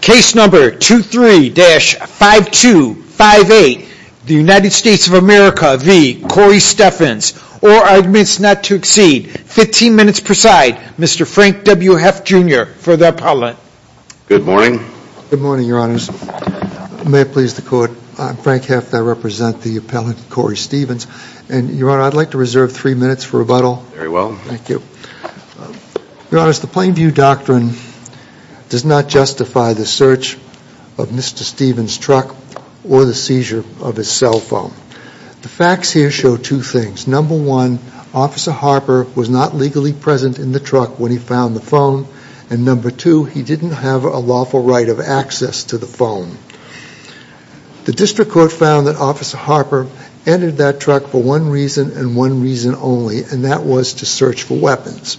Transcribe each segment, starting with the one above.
Case number 23-5258, the United States of America v. Corey Stephens, or I admit not to exceed, 15 minutes per side, Mr. Frank W. Heff, Jr. for the appellant. Good morning. Good morning, your honors. May it please the court, I'm Frank Heff, I represent the appellant, Corey Stephens, and your honor, I'd like to reserve three minutes for rebuttal. Very well. Thank you. Your honors, the Plainview Doctrine does not justify the search of Mr. Stephens' truck or the seizure of his cell phone. The facts here show two things. Number one, Officer Harper was not legally present in the truck when he found the phone, and number two, he didn't have a lawful right of access to the phone. The district court found that Officer Harper entered that truck for one reason and one reason only, and that was to search for weapons.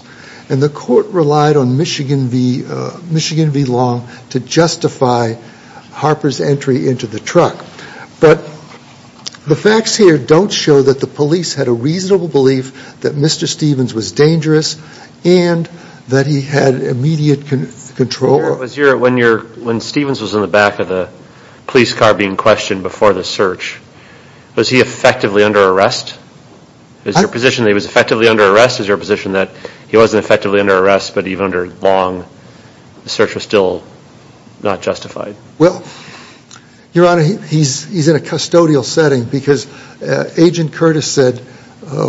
And the court relied on Michigan v. Long to justify Harper's entry into the truck. But the facts here don't show that the police had a reasonable belief that Mr. Stephens was dangerous and that he had immediate control. When Stephens was in the back of the police car being questioned before the search, was he effectively under arrest? Is your position that he was effectively under arrest? Is your position that he wasn't effectively under arrest, but even under Long, the search was still not justified? Well, your honor, he's in a custodial setting because Agent Curtis said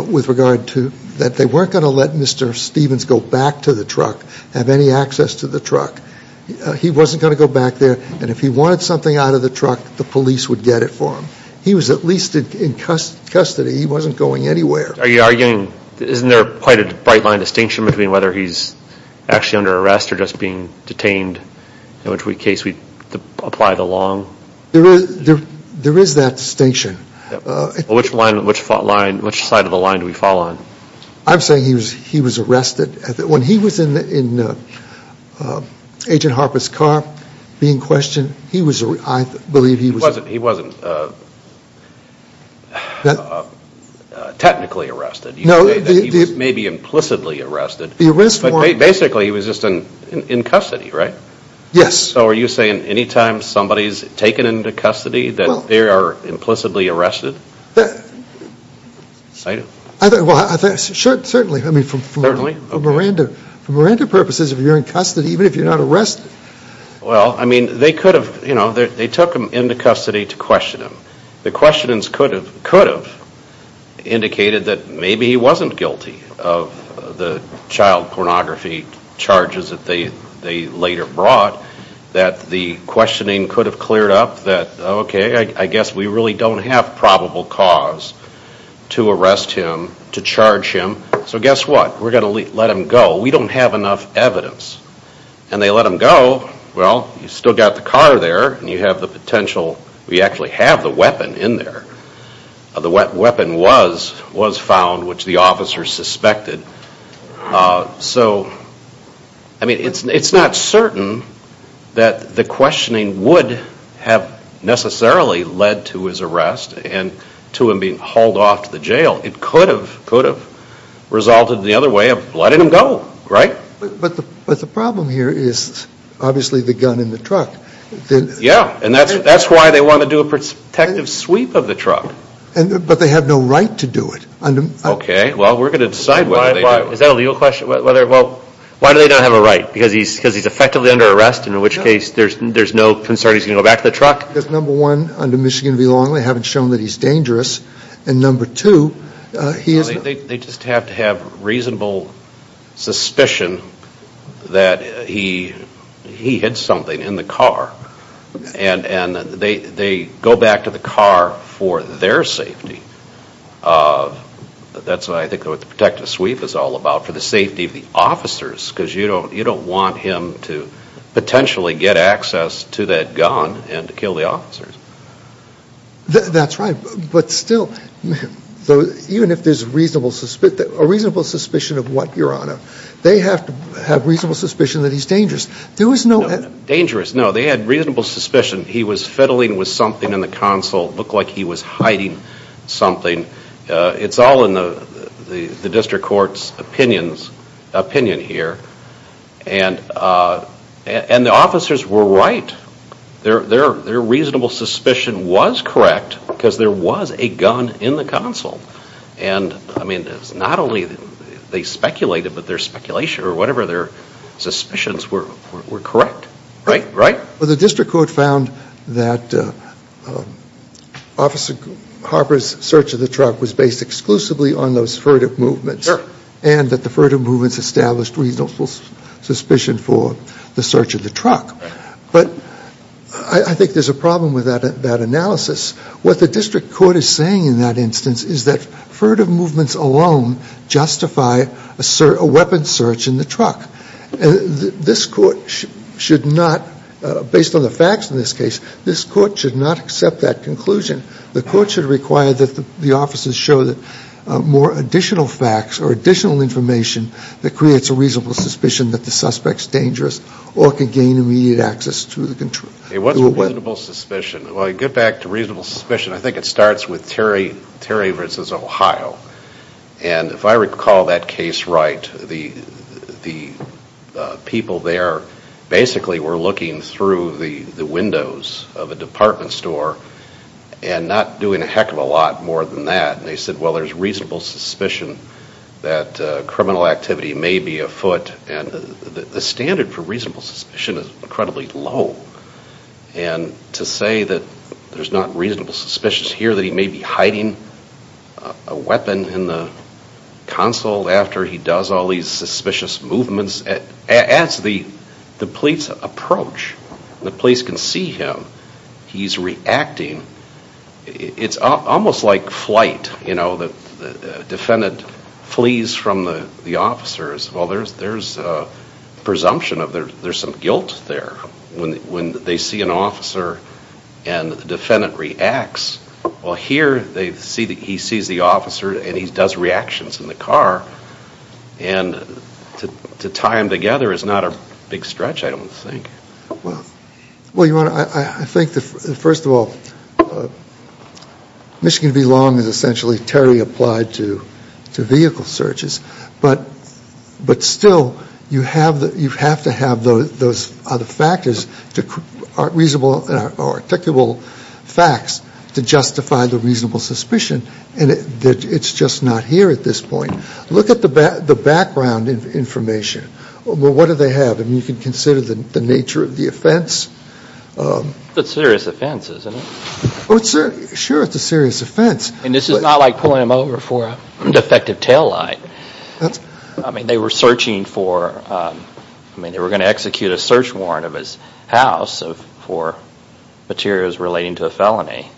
with regard to that they weren't going to let Mr. Stephens go back to the truck, have any access to the truck. He wasn't going to go back there, and if he wanted something out of the truck, the police would get it for him. He was at least in custody. He wasn't going anywhere. Are you arguing, isn't there quite a bright line distinction between whether he's actually under arrest or just being detained, in which case we apply the Long? There is that distinction. Which side of the line do we fall on? I'm saying he was arrested. When he was in Agent Harper's car being questioned, he was, I believe he was He wasn't technically arrested. You say that he was maybe implicitly arrested. Basically, he was just in custody, right? Yes. So are you saying any time somebody's taken into custody that they are implicitly arrested? Certainly. For Miranda purposes, if you're in custody, even if you're not arrested. Well, they took him into custody to question him. The questionings could have indicated that maybe he wasn't guilty of the child pornography charges that they later brought. That the questioning could have cleared up that, okay, I guess we really don't have probable cause to arrest him, to charge him. So guess what? We're going to let him go. We don't have enough evidence. And they let him go. Well, you still got the car there and you have the potential. We actually have the weapon in there. The weapon was found, which the officers suspected. So, I mean, it's not certain that the questioning would have necessarily led to his arrest and to him being hauled off to the jail. It could have resulted in the other way of letting him go, right? But the problem here is obviously the gun in the truck. Yeah. And that's why they want to do a protective sweep of the truck. But they have no right to do it. Okay. Well, we're going to decide whether they do. Is that a legal question? Well, why do they not have a right? Because he's effectively under arrest, in which case there's no concern he's going to go back to the truck? Because, number one, under Michigan v. Longley, they haven't shown that he's dangerous. And, number two, he is not. They just have to have reasonable suspicion that he hid something in the car. And they go back to the car for their safety. That's what I think what the protective sweep is all about, for the safety of the officers, because you don't want him to potentially get access to that gun and to kill the officers. That's right. But still, even if there's a reasonable suspicion of what, Your Honor, they have to have reasonable suspicion that he's dangerous. Dangerous? No. They had reasonable suspicion he was fiddling with something in the console, looked like he was hiding something. It's all in the district court's opinion here. And the officers were right. Their reasonable suspicion was correct because there was a gun in the console. And, I mean, it's not only they speculated, but their speculation or whatever, their suspicions were correct. Right? Right? Well, the district court found that Officer Harper's search of the truck was based exclusively on those furtive movements. Sure. And that the furtive movements established reasonable suspicion for the search of the truck. But I think there's a problem with that analysis. What the district court is saying in that instance is that furtive movements alone justify a weapon search in the truck. And this court should not, based on the facts in this case, this court should not accept that conclusion. The court should require that the officers show more additional facts or additional information that creates a reasonable suspicion that the suspect's dangerous or can gain immediate access to a weapon. It wasn't reasonable suspicion. Well, I get back to reasonable suspicion. I think it starts with Terry versus Ohio. And if I recall that case right, the people there basically were looking through the windows of a department store and not doing a heck of a lot more than that. And they said, well, there's reasonable suspicion that criminal activity may be afoot. And the standard for reasonable suspicion is incredibly low. And to say that there's not reasonable suspicion here, that he may be hiding a weapon in the console after he does all these suspicious movements, as the police approach, the police can see him, he's reacting. It's almost like flight. The defendant flees from the officers. Well, there's a presumption of there's some guilt there. When they see an officer and the defendant reacts, well, here he sees the officer and he does reactions in the car. And to tie them together is not a big stretch, I don't think. Well, Your Honor, I think, first of all, Michigan v. Long is essentially Terry applied to vehicle searches. But still, you have to have those other factors, reasonable and articulable facts to justify the reasonable suspicion. And it's just not here at this point. Look at the background information. Well, what do they have? You can consider the nature of the offense. It's a serious offense, isn't it? Sure, it's a serious offense. And this is not like pulling him over for a defective taillight. I mean, they were searching for, I mean, they were going to execute a search warrant of his house for materials relating to a felony.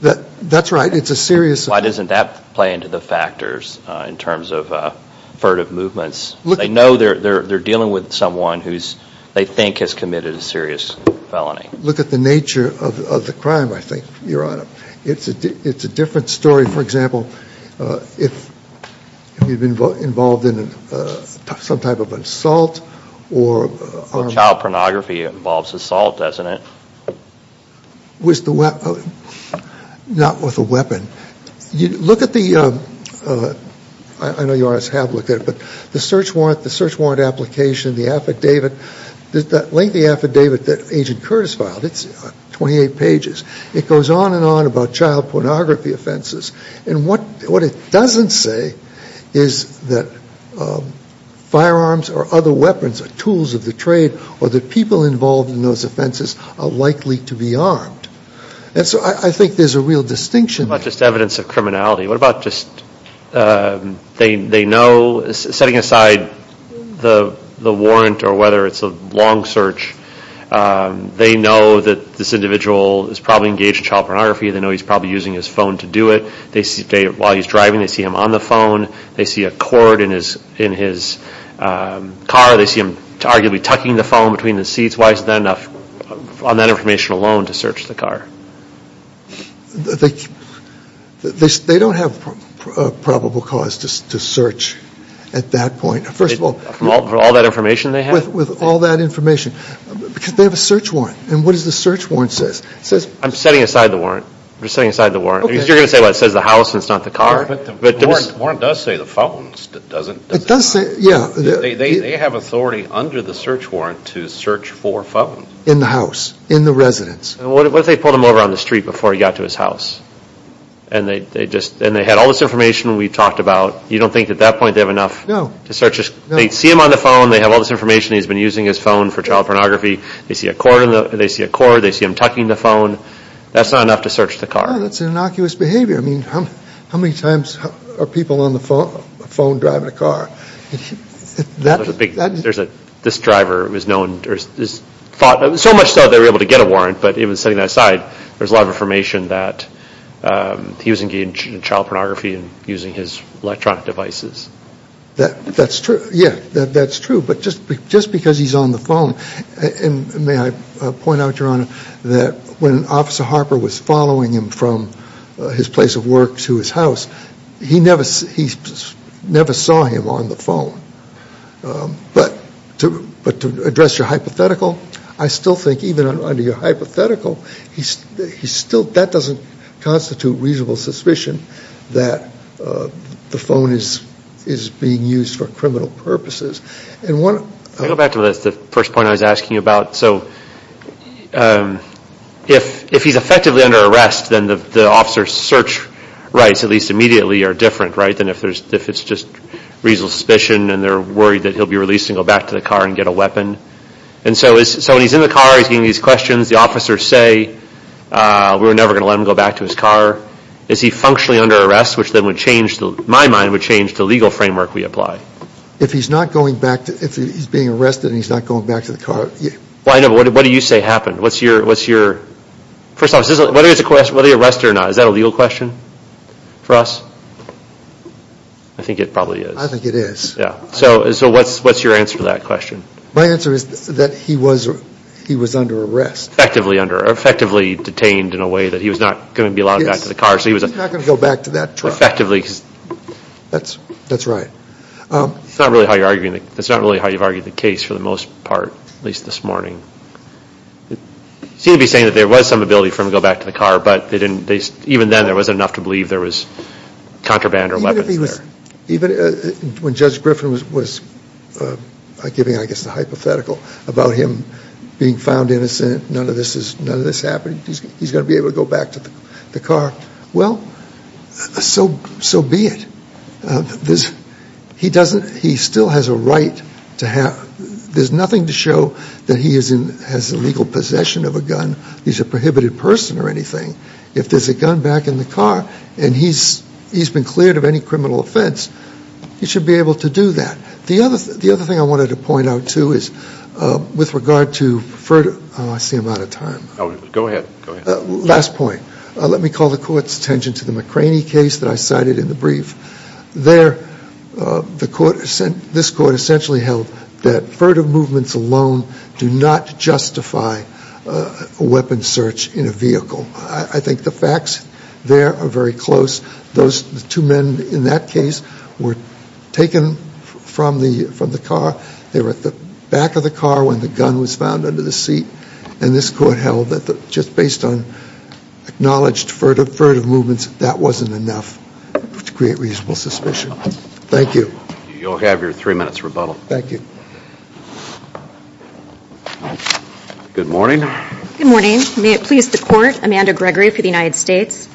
That's right. It's a serious. Why doesn't that play into the factors in terms of furtive movements? They know they're dealing with someone who they think has committed a serious felony. Look at the nature of the crime, I think, Your Honor. It's a different story, for example, if you've been involved in some type of assault or – Child pornography involves assault, doesn't it? Not with a weapon. Look at the – I know Your Honors have looked at it, but the search warrant application, the affidavit, the lengthy affidavit that Agent Curtis filed, it's 28 pages. It goes on and on about child pornography offenses. And what it doesn't say is that firearms or other weapons are tools of the trade or that people involved in those offenses are likely to be armed. And so I think there's a real distinction. What about just evidence of criminality? What about just they know, setting aside the warrant or whether it's a long search, they know that this individual is probably engaged in child pornography. They know he's probably using his phone to do it. While he's driving, they see him on the phone. They see a cord in his car. They see him arguably tucking the phone between the seats. Why is it not enough on that information alone to search the car? They don't have probable cause to search at that point. First of all, from all that information they have? With all that information. Because they have a search warrant. And what does the search warrant say? It says – I'm setting aside the warrant. I'm just setting aside the warrant. Because you're going to say, well, it says the house and it's not the car. But the warrant does say the phones. It doesn't – It does say – yeah. They have authority under the search warrant to search for phones. In the house. In the residence. What if they pulled him over on the street before he got to his house? And they had all this information we talked about. You don't think at that point they have enough to search his – No. They see him on the phone. They have all this information. He's been using his phone for child pornography. They see a cord. They see him tucking the phone. That's not enough to search the car. That's innocuous behavior. I mean, how many times are people on the phone driving a car? There's a – this driver was known – so much so they were able to get a warrant, but even setting that aside, there's a lot of information that he was engaged in child pornography and using his electronic devices. That's true. Yeah. That's true. But just because he's on the phone – and may I point out, Your Honor, that when Officer Harper was following him from his place of work to his house, he never saw him on the phone. But to address your hypothetical, I still think even under your hypothetical, that doesn't constitute reasonable suspicion that the phone is being used for criminal purposes. Can I go back to the first point I was asking about? So if he's effectively under arrest, then the officer's search rights, at least immediately, are different, right, than if it's just reasonable suspicion and they're worried that he'll be released and go back to the car and get a weapon. And so when he's in the car, he's getting these questions. The officers say, we're never going to let him go back to his car. Is he functionally under arrest, which then would change – my mind would change the legal framework we apply. If he's not going back – if he's being arrested and he's not going back to the car – Well, I know, but what do you say happened? What's your – first off, whether he's arrested or not, is that a legal question for us? I think it probably is. I think it is. Yeah. So what's your answer to that question? My answer is that he was under arrest. Effectively under – or effectively detained in a way that he was not going to be allowed back to the car. He's not going to go back to that truck. Effectively. That's right. That's not really how you're arguing – that's not really how you've argued the case for the most part, at least this morning. You seem to be saying that there was some ability for him to go back to the car, but they didn't – even then, there wasn't enough to believe there was contraband or weapons there. Even when Judge Griffin was giving, I guess, the hypothetical about him being found innocent, none of this happened, he's going to be able to go back to the car. Well, so be it. He still has a right to have – there's nothing to show that he has illegal possession of a gun. He's a prohibited person or anything. If there's a gun back in the car and he's been cleared of any criminal offense, he should be able to do that. The other thing I wanted to point out, too, is with regard to – oh, I see I'm out of time. Go ahead. Last point. Let me call the Court's attention to the McCraney case that I cited in the brief. There, the Court – this Court essentially held that furtive movements alone do not justify a weapon search in a vehicle. I think the facts there are very close. Those two men in that case were taken from the car. They were at the back of the car when the gun was found under the seat, and this Court held that just based on acknowledged furtive movements, that wasn't enough to create reasonable suspicion. Thank you. You'll have your three minutes rebuttal. Thank you. Good morning. Good morning. May it please the Court, Amanda Gregory for the United States.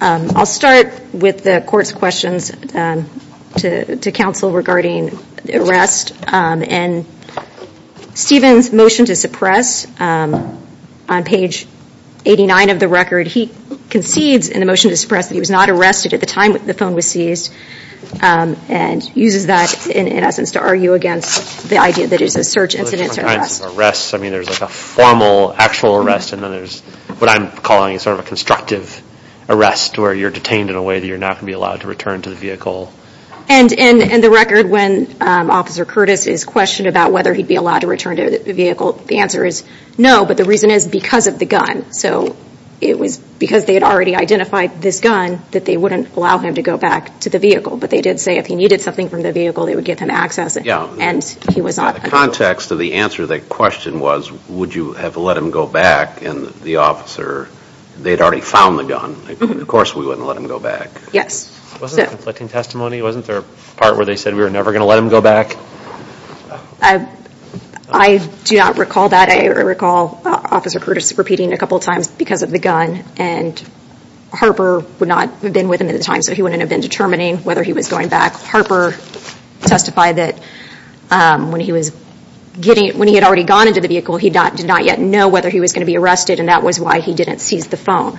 I'll start with the Court's questions to counsel regarding the arrest. And Stephen's motion to suppress, on page 89 of the record, he concedes in the motion to suppress that he was not arrested at the time the phone was seized, and uses that in essence to argue against the idea that it is a search incident to arrest. I mean, there's a formal, actual arrest, and then there's what I'm calling sort of a constructive arrest where you're detained in a way that you're not going to be allowed to return to the vehicle. And in the record when Officer Curtis is questioned about whether he'd be allowed to return to the vehicle, the answer is no, but the reason is because of the gun. So it was because they had already identified this gun that they wouldn't allow him to go back to the vehicle. But they did say if he needed something from the vehicle, they would get him access, and he was not. The context of the answer to that question was, would you have let him go back, and the officer, they'd already found the gun. Of course we wouldn't let him go back. Yes. Wasn't there a conflicting testimony? Wasn't there a part where they said we were never going to let him go back? I do not recall that. I recall Officer Curtis repeating a couple times because of the gun, and Harper would not have been with him at the time, so he wouldn't have been determining whether he was going back. Harper testified that when he had already gone into the vehicle, he did not yet know whether he was going to be arrested, and that was why he didn't seize the phone.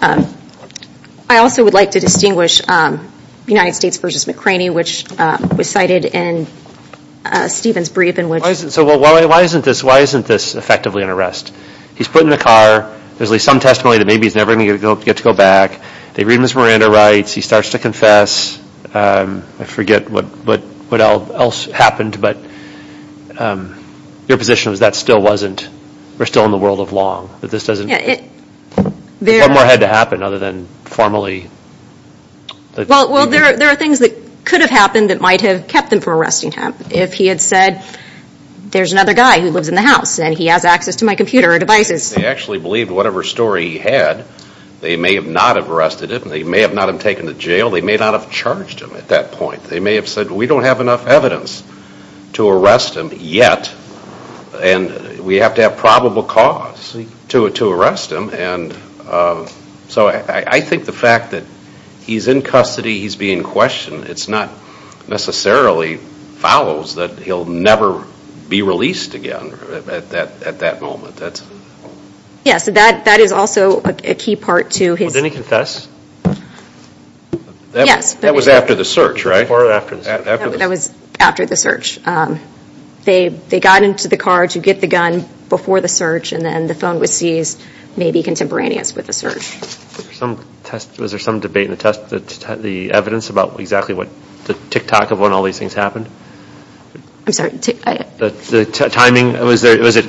I also would like to distinguish United States v. McCraney, which was cited in Stephen's brief. So why isn't this effectively an arrest? He's put in the car. There's at least some testimony that maybe he's never going to get to go back. They read Ms. Miranda writes. He starts to confess. I forget what else happened, but your position was that still wasn't, we're still in the world of long. One more had to happen other than formally. Well, there are things that could have happened that might have kept him from arresting him. If he had said, there's another guy who lives in the house, and he has access to my computer and devices. They actually believed whatever story he had, they may not have arrested him. They may not have taken him to jail. They may not have charged him at that point. They may have said, we don't have enough evidence to arrest him yet, and we have to have probable cause to arrest him. So I think the fact that he's in custody, he's being questioned, it's not necessarily fouls that he'll never be released again at that moment. Yes, that is also a key part to his. Didn't he confess? Yes. That was after the search, right? That was after the search. They got into the car to get the gun before the search, and then the phone was seized, maybe contemporaneous with the search. Was there some debate in the test, the evidence, about exactly the tick-tock of when all these things happened? I'm sorry? The timing, was it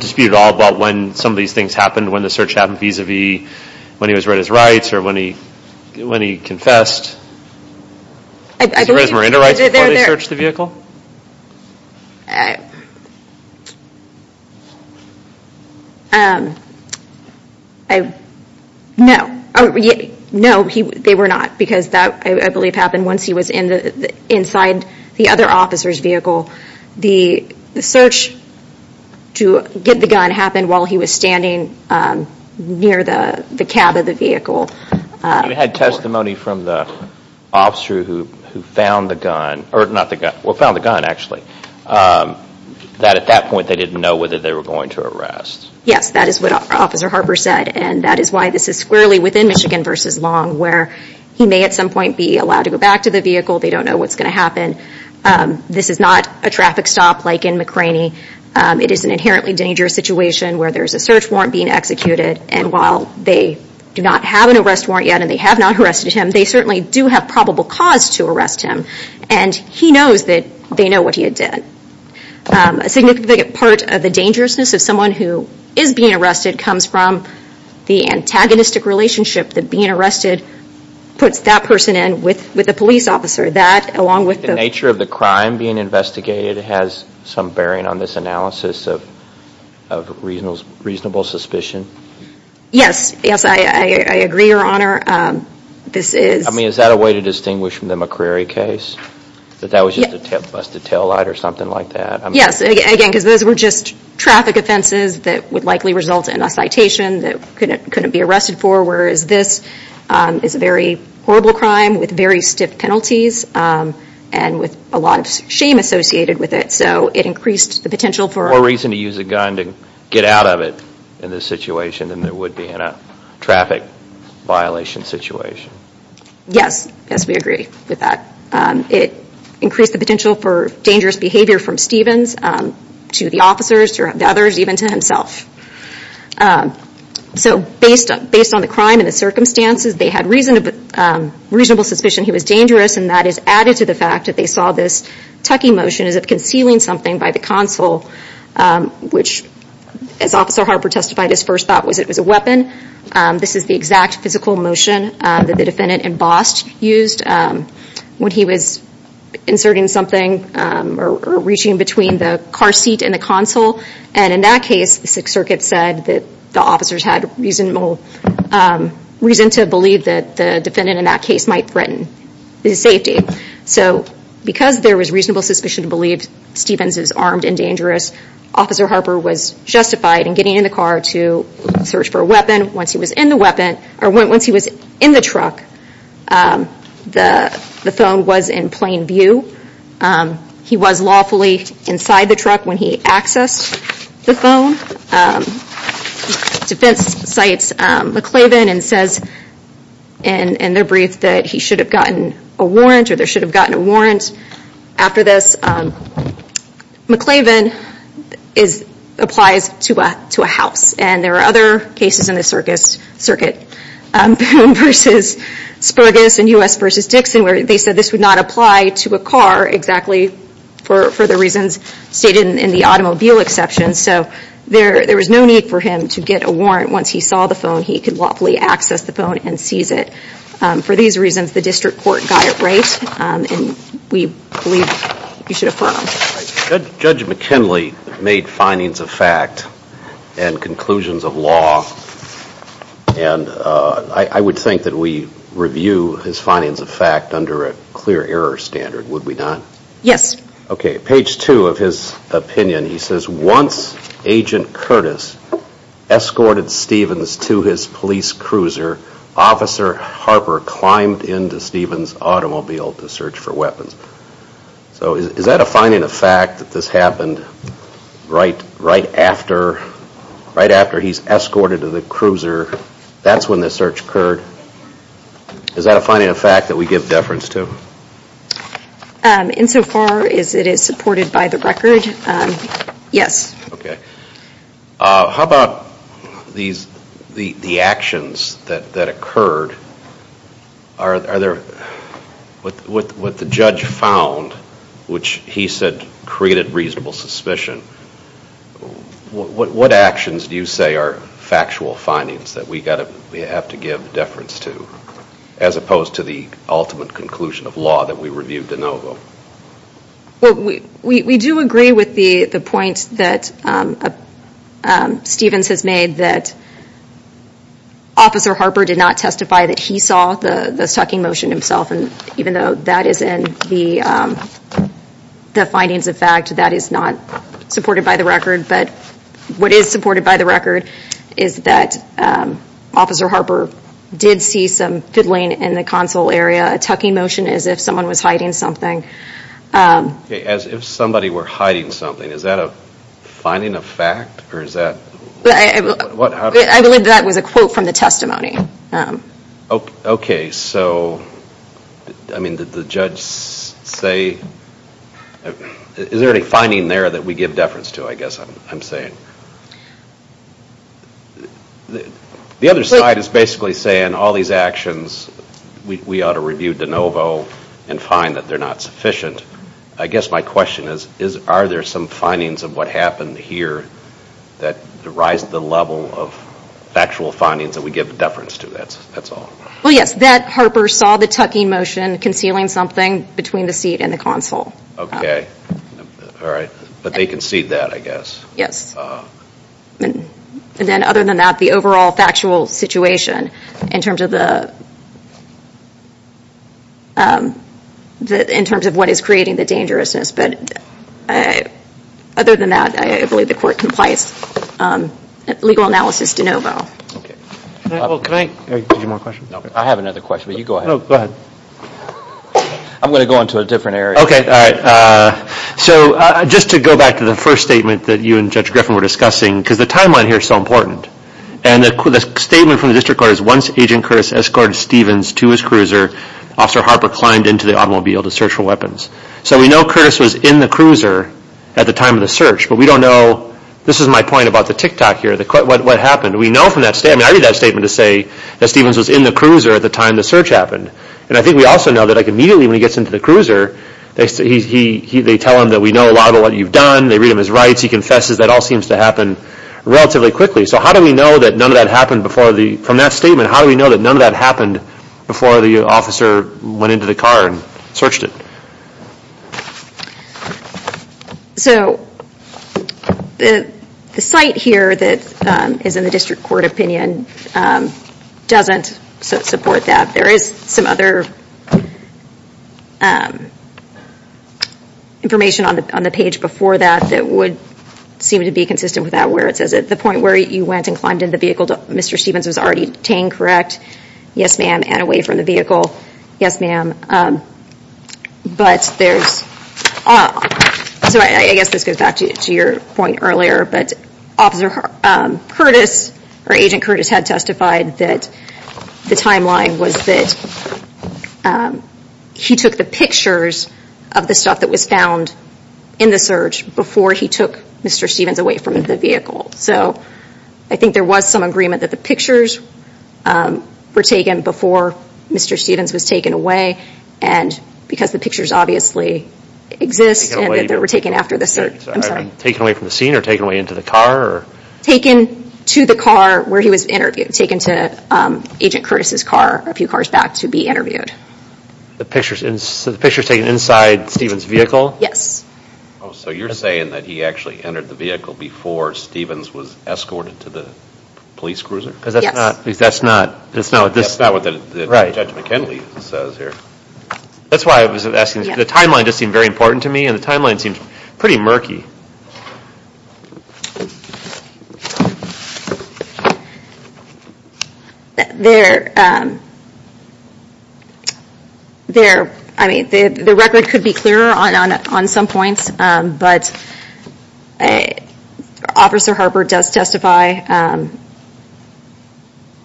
disputed at all about when some of these things happened, when the search happened vis-a-vis when he was read his rights or when he confessed? I believe he was there. Did he raise his marina rights before they searched the vehicle? No. No, they were not, because that I believe happened once he was inside the other officer's vehicle. The search to get the gun happened while he was standing near the cab of the vehicle. We had testimony from the officer who found the gun, or not the gun, well, found the gun, actually, that at that point they didn't know whether they were going to arrest. Yes, that is what Officer Harper said, and that is why this is squarely within Michigan v. Long, where he may at some point be allowed to go back to the vehicle. They don't know what's going to happen. This is not a traffic stop like in McRaney. It is an inherently dangerous situation where there is a search warrant being executed, and while they do not have an arrest warrant yet and they have not arrested him, they certainly do have probable cause to arrest him, and he knows that they know what he did. A significant part of the dangerousness of someone who is being arrested comes from the antagonistic relationship that being arrested puts that person in with the police officer. That, along with the nature of the crime being investigated, has some bearing on this analysis of reasonable suspicion? Yes, yes, I agree, Your Honor. I mean, is that a way to distinguish from the McCrary case, that that was just a busted taillight or something like that? Yes, again, because those were just traffic offenses that would likely result in a citation that couldn't be arrested for, whereas this is a very horrible crime with very stiff penalties and with a lot of shame associated with it, so it increased the potential for... More reason to use a gun to get out of it in this situation than there would be in a traffic violation situation. Yes, yes, we agree with that. It increased the potential for dangerous behavior from Stevens to the officers, to the others, even to himself. So based on the crime and the circumstances, they had reasonable suspicion he was dangerous, and that is added to the fact that they saw this tucking motion as if concealing something by the console, which, as Officer Harper testified, his first thought was it was a weapon. This is the exact physical motion that the defendant embossed used when he was inserting something or reaching between the car seat and the console. And in that case, the Sixth Circuit said that the officers had reason to believe that the defendant in that case might threaten his safety. So because there was reasonable suspicion to believe Stevens is armed and dangerous, Officer Harper was justified in getting in the car to search for a weapon. Once he was in the weapon, or once he was in the truck, the phone was in plain view. He was lawfully inside the truck when he accessed the phone. The defense cites McClavin and says in their brief that he should have gotten a warrant or they should have gotten a warrant after this. McClavin applies to a house, and there are other cases in the Circuit, Boone v. Spurgess and U.S. v. Dixon, where they said this would not apply to a car exactly for the reasons stated in the automobile exception. So there was no need for him to get a warrant once he saw the phone. He could lawfully access the phone and seize it. For these reasons, the district court got it right, and we believe you should affirm. Judge McKinley made findings of fact and conclusions of law, and I would think that we review his findings of fact under a clear error standard, would we not? Yes. Okay, page two of his opinion, he says, Once Agent Curtis escorted Stevens to his police cruiser, Officer Harper climbed into Stevens' automobile to search for weapons. So is that a finding of fact that this happened right after he's escorted to the cruiser? That's when the search occurred? Is that a finding of fact that we give deference to? Insofar as it is supported by the record, yes. How about the actions that occurred? Are there, what the judge found, which he said created reasonable suspicion, what actions do you say are factual findings that we have to give deference to, as opposed to the ultimate conclusion of law that we reviewed de novo? We do agree with the point that Stevens has made, that Officer Harper did not testify that he saw the sucking motion himself, and even though that is in the findings of fact, that is not supported by the record. But what is supported by the record is that Officer Harper did see some fiddling in the console area, a tucking motion as if someone was hiding something. As if somebody were hiding something, is that a finding of fact? I believe that was a quote from the testimony. Okay, so, I mean, did the judge say, is there any finding there that we give deference to, I guess I'm saying? The other side is basically saying all these actions, we ought to review de novo and find that they're not sufficient. I guess my question is, are there some findings of what happened here that derives the level of factual findings that we give deference to, that's all? Well, yes, that Harper saw the tucking motion concealing something between the seat and the console. Okay, all right, but they concede that, I guess. Yes, and then other than that, the overall factual situation in terms of the, in terms of what is creating the dangerousness, but other than that, I believe the court complies legal analysis de novo. Okay, well, can I, did you have more questions? No, I have another question, but you go ahead. No, go ahead. I'm going to go on to a different area. Okay, all right. So, just to go back to the first statement that you and Judge Griffin were discussing, because the timeline here is so important, and the statement from the district court is, once Agent Curtis escorted Stevens to his cruiser, Officer Harper climbed into the automobile to search for weapons. So, we know Curtis was in the cruiser at the time of the search, but we don't know, this is my point about the tick-tock here, what happened. We know from that statement, I mean, I read that statement to say that Stevens was in the cruiser at the time the search happened, and I think we also know that, like, immediately when he gets into the cruiser, they tell him that we know a lot of what you've done, they read him his rights, he confesses, that all seems to happen relatively quickly. So, how do we know that none of that happened before the, from that statement, how do we know that none of that happened before the officer went into the car and searched it? So, the site here that is in the district court opinion doesn't support that. There is some other information on the page before that that would seem to be consistent with that, where it says at the point where you went and climbed into the vehicle, Mr. Stevens was already detained, correct? Yes, ma'am. And away from the vehicle? Yes, ma'am. But there's, so I guess this goes back to your point earlier, but Officer Curtis, or Agent Curtis had testified that the timeline was that he took the pictures of the stuff that was found in the search before he took Mr. Stevens away from the vehicle. So, I think there was some agreement that the pictures were taken before Mr. Stevens was taken away and because the pictures obviously exist and that they were taken after the search. I'm sorry. Taken away from the scene or taken away into the car? Taken to the car where he was interviewed, taken to Agent Curtis' car, a few cars back to be interviewed. The pictures, so the pictures taken inside Stevens' vehicle? Yes. Oh, so you're saying that he actually entered the vehicle before Stevens was escorted to the police cruiser? Yes. Because that's not what Judge McKinley says here. That's why I was asking, the timeline just seemed very important to me and the timeline seems pretty murky. Thank you. The record could be clearer on some points, but Officer Harper does testify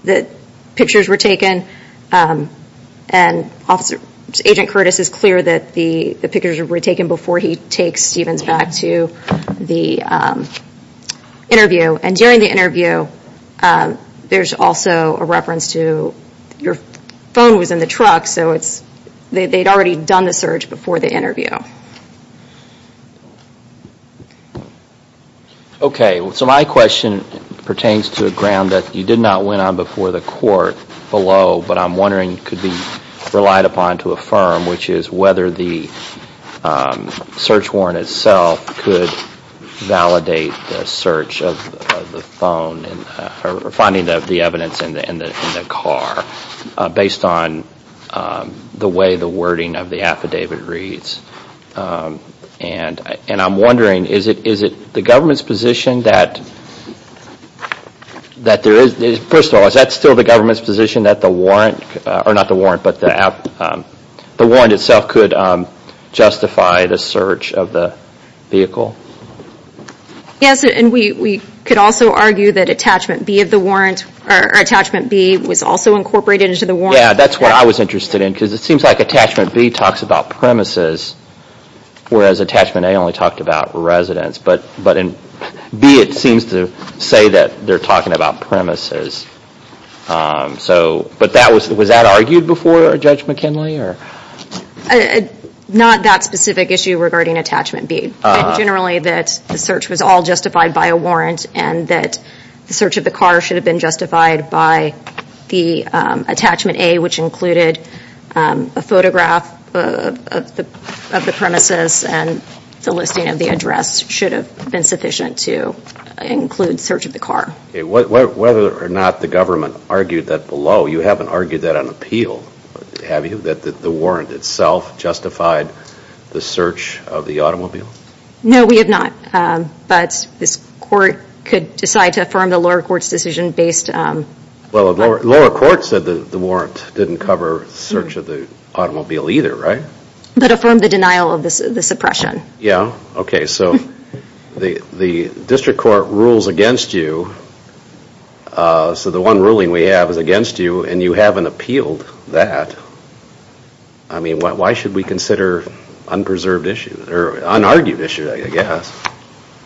that pictures were taken and Agent Curtis is clear that the pictures were taken before he takes Stevens back to the interview. And during the interview, there's also a reference to, your phone was in the truck, so they'd already done the search before the interview. Okay, so my question pertains to a ground that you did not went on before the court below, but I'm wondering could be relied upon to affirm, which is whether the search warrant itself could validate the search of the phone or finding the evidence in the car based on the way the wording of the affidavit reads. And I'm wondering, is it the government's position that there is, first of all, is that still the government's position that the warrant, or not the warrant, but the warrant itself could justify the search of the vehicle? Yes, and we could also argue that Attachment B of the warrant, or Attachment B was also incorporated into the warrant. Yeah, that's what I was interested in, because it seems like Attachment B talks about premises, whereas Attachment A only talked about residents. But in B, it seems to say that they're talking about premises. But was that argued before, Judge McKinley? Not that specific issue regarding Attachment B. Generally that the search was all justified by a warrant and that the search of the car should have been justified by the Attachment A, which included a photograph of the premises and the listing of the address should have been sufficient to include search of the car. Okay, whether or not the government argued that below, you haven't argued that on appeal, have you? That the warrant itself justified the search of the automobile? No, we have not. But this court could decide to affirm the lower court's decision based on... Well, the lower court said the warrant didn't cover search of the automobile either, right? But affirmed the denial of the suppression. Okay, so the district court rules against you, so the one ruling we have is against you, and you haven't appealed that. I mean, why should we consider unpreserved issues, or unargued issues, I guess?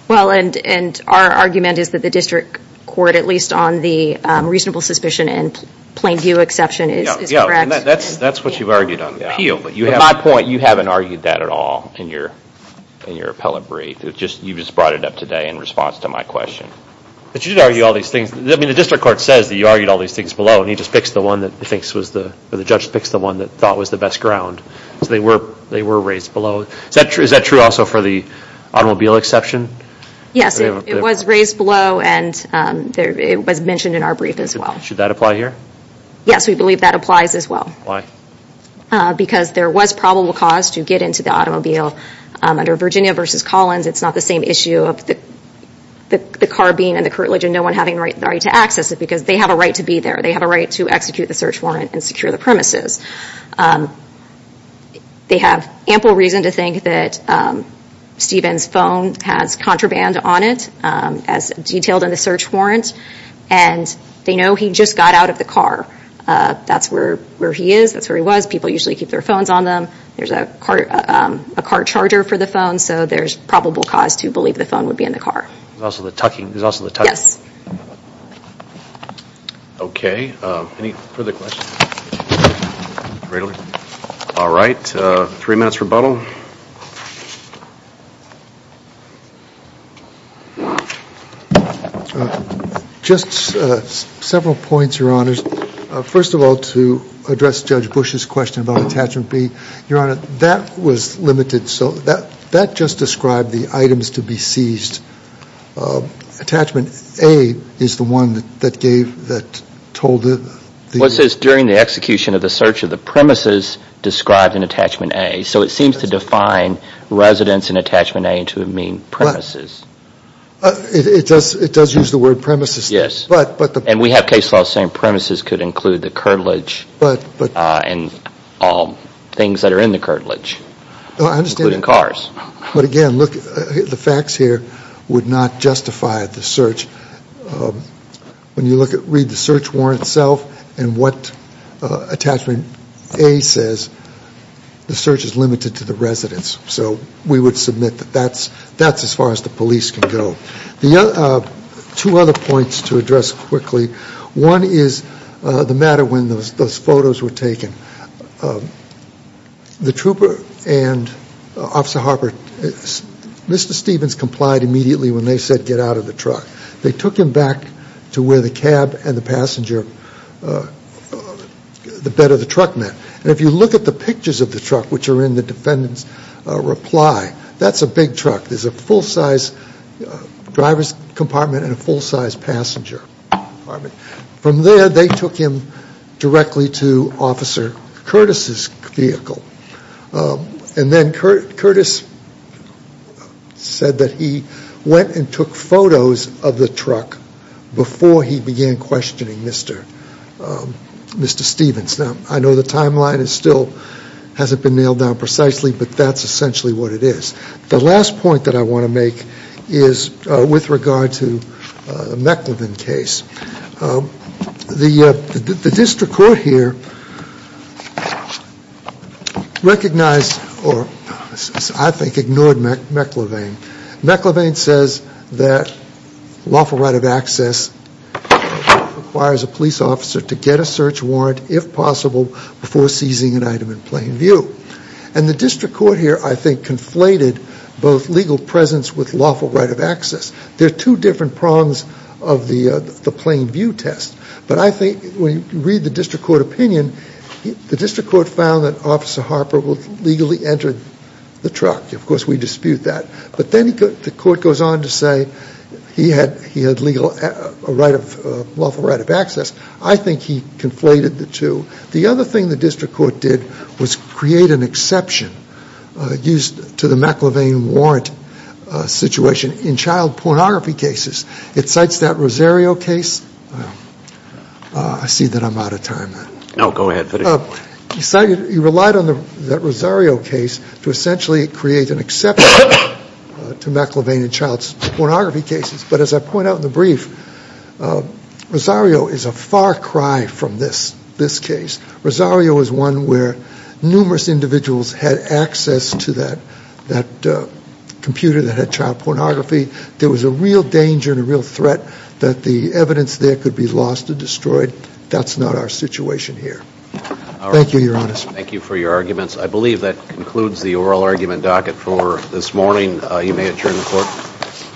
Well, and our argument is that the district court, at least on the reasonable suspicion and plain view exception, is correct. That's what you've argued on appeal. At my point, you haven't argued that at all in your appellate brief. You just brought it up today in response to my question. But you did argue all these things. I mean, the district court says that you argued all these things below, and you just fixed the one that the judge fixed the one that thought was the best ground. So they were raised below. Is that true also for the automobile exception? Yes, it was raised below, and it was mentioned in our brief as well. Should that apply here? Yes, we believe that applies as well. Why? Because there was probable cause to get into the automobile. Under Virginia v. Collins, it's not the same issue of the car being in the curtilage and no one having the right to access it, because they have a right to be there. They have a right to execute the search warrant and secure the premises. They have ample reason to think that Stephen's phone has contraband on it, as detailed in the search warrant, and they know he just got out of the car. That's where he is. That's where he was. People usually keep their phones on them. There's a car charger for the phone, so there's probable cause to believe the phone would be in the car. There's also the tucking. Yes. Okay. Any further questions? All right. Three minutes rebuttal. Just several points, Your Honors. First of all, to address Judge Bush's question about Attachment B, Your Honor, that was limited. So that just described the items to be seized. Attachment A is the one that gave, that told the ---- Well, it says during the execution of the search of the premises described in Attachment A. So it seems to describe the items to be seized. It doesn't define residence in Attachment A to mean premises. It does use the word premises. Yes. And we have case laws saying premises could include the curtilage and all things that are in the curtilage, including cars. But, again, look, the facts here would not justify the search. When you read the search warrant itself and what Attachment A says, the search is limited to the residence. So we would submit that that's as far as the police can go. Two other points to address quickly. One is the matter when those photos were taken. The trooper and Officer Harper, Mr. Stevens complied immediately when they said get out of the truck. They took him back to where the cab and the passenger, the bed of the truck met. And if you look at the pictures of the truck, which are in the defendant's reply, that's a big truck. There's a full-size driver's compartment and a full-size passenger compartment. From there, they took him directly to Officer Curtis' vehicle. And then Curtis said that he went and took photos of the truck before he began questioning Mr. Stevens. Now, I know the timeline still hasn't been nailed down precisely, but that's essentially what it is. The last point that I want to make is with regard to the Mecklevin case. The district court here recognized or I think ignored Mecklevin. Mecklevin says that lawful right of access requires a police officer to get a search warrant if possible before seizing an item in plain view. And the district court here I think conflated both legal presence with lawful right of access. There are two different prongs of the plain view test. But I think when you read the district court opinion, the district court found that Officer Harper legally entered the truck. Of course, we dispute that. But then the court goes on to say he had a lawful right of access. I think he conflated the two. The other thing the district court did was create an exception used to the Mecklevin warrant situation in child pornography cases. It cites that Rosario case. I see that I'm out of time. No, go ahead. He relied on that Rosario case to essentially create an exception to Mecklevin in child pornography cases. But as I point out in the brief, Rosario is a far cry from this case. Rosario is one where numerous individuals had access to that computer that had child pornography. There was a real danger and a real threat that the evidence there could be lost or destroyed. That's not our situation here. Thank you, Your Honor. Thank you for your arguments. I believe that concludes the oral argument docket for this morning. You may adjourn the court.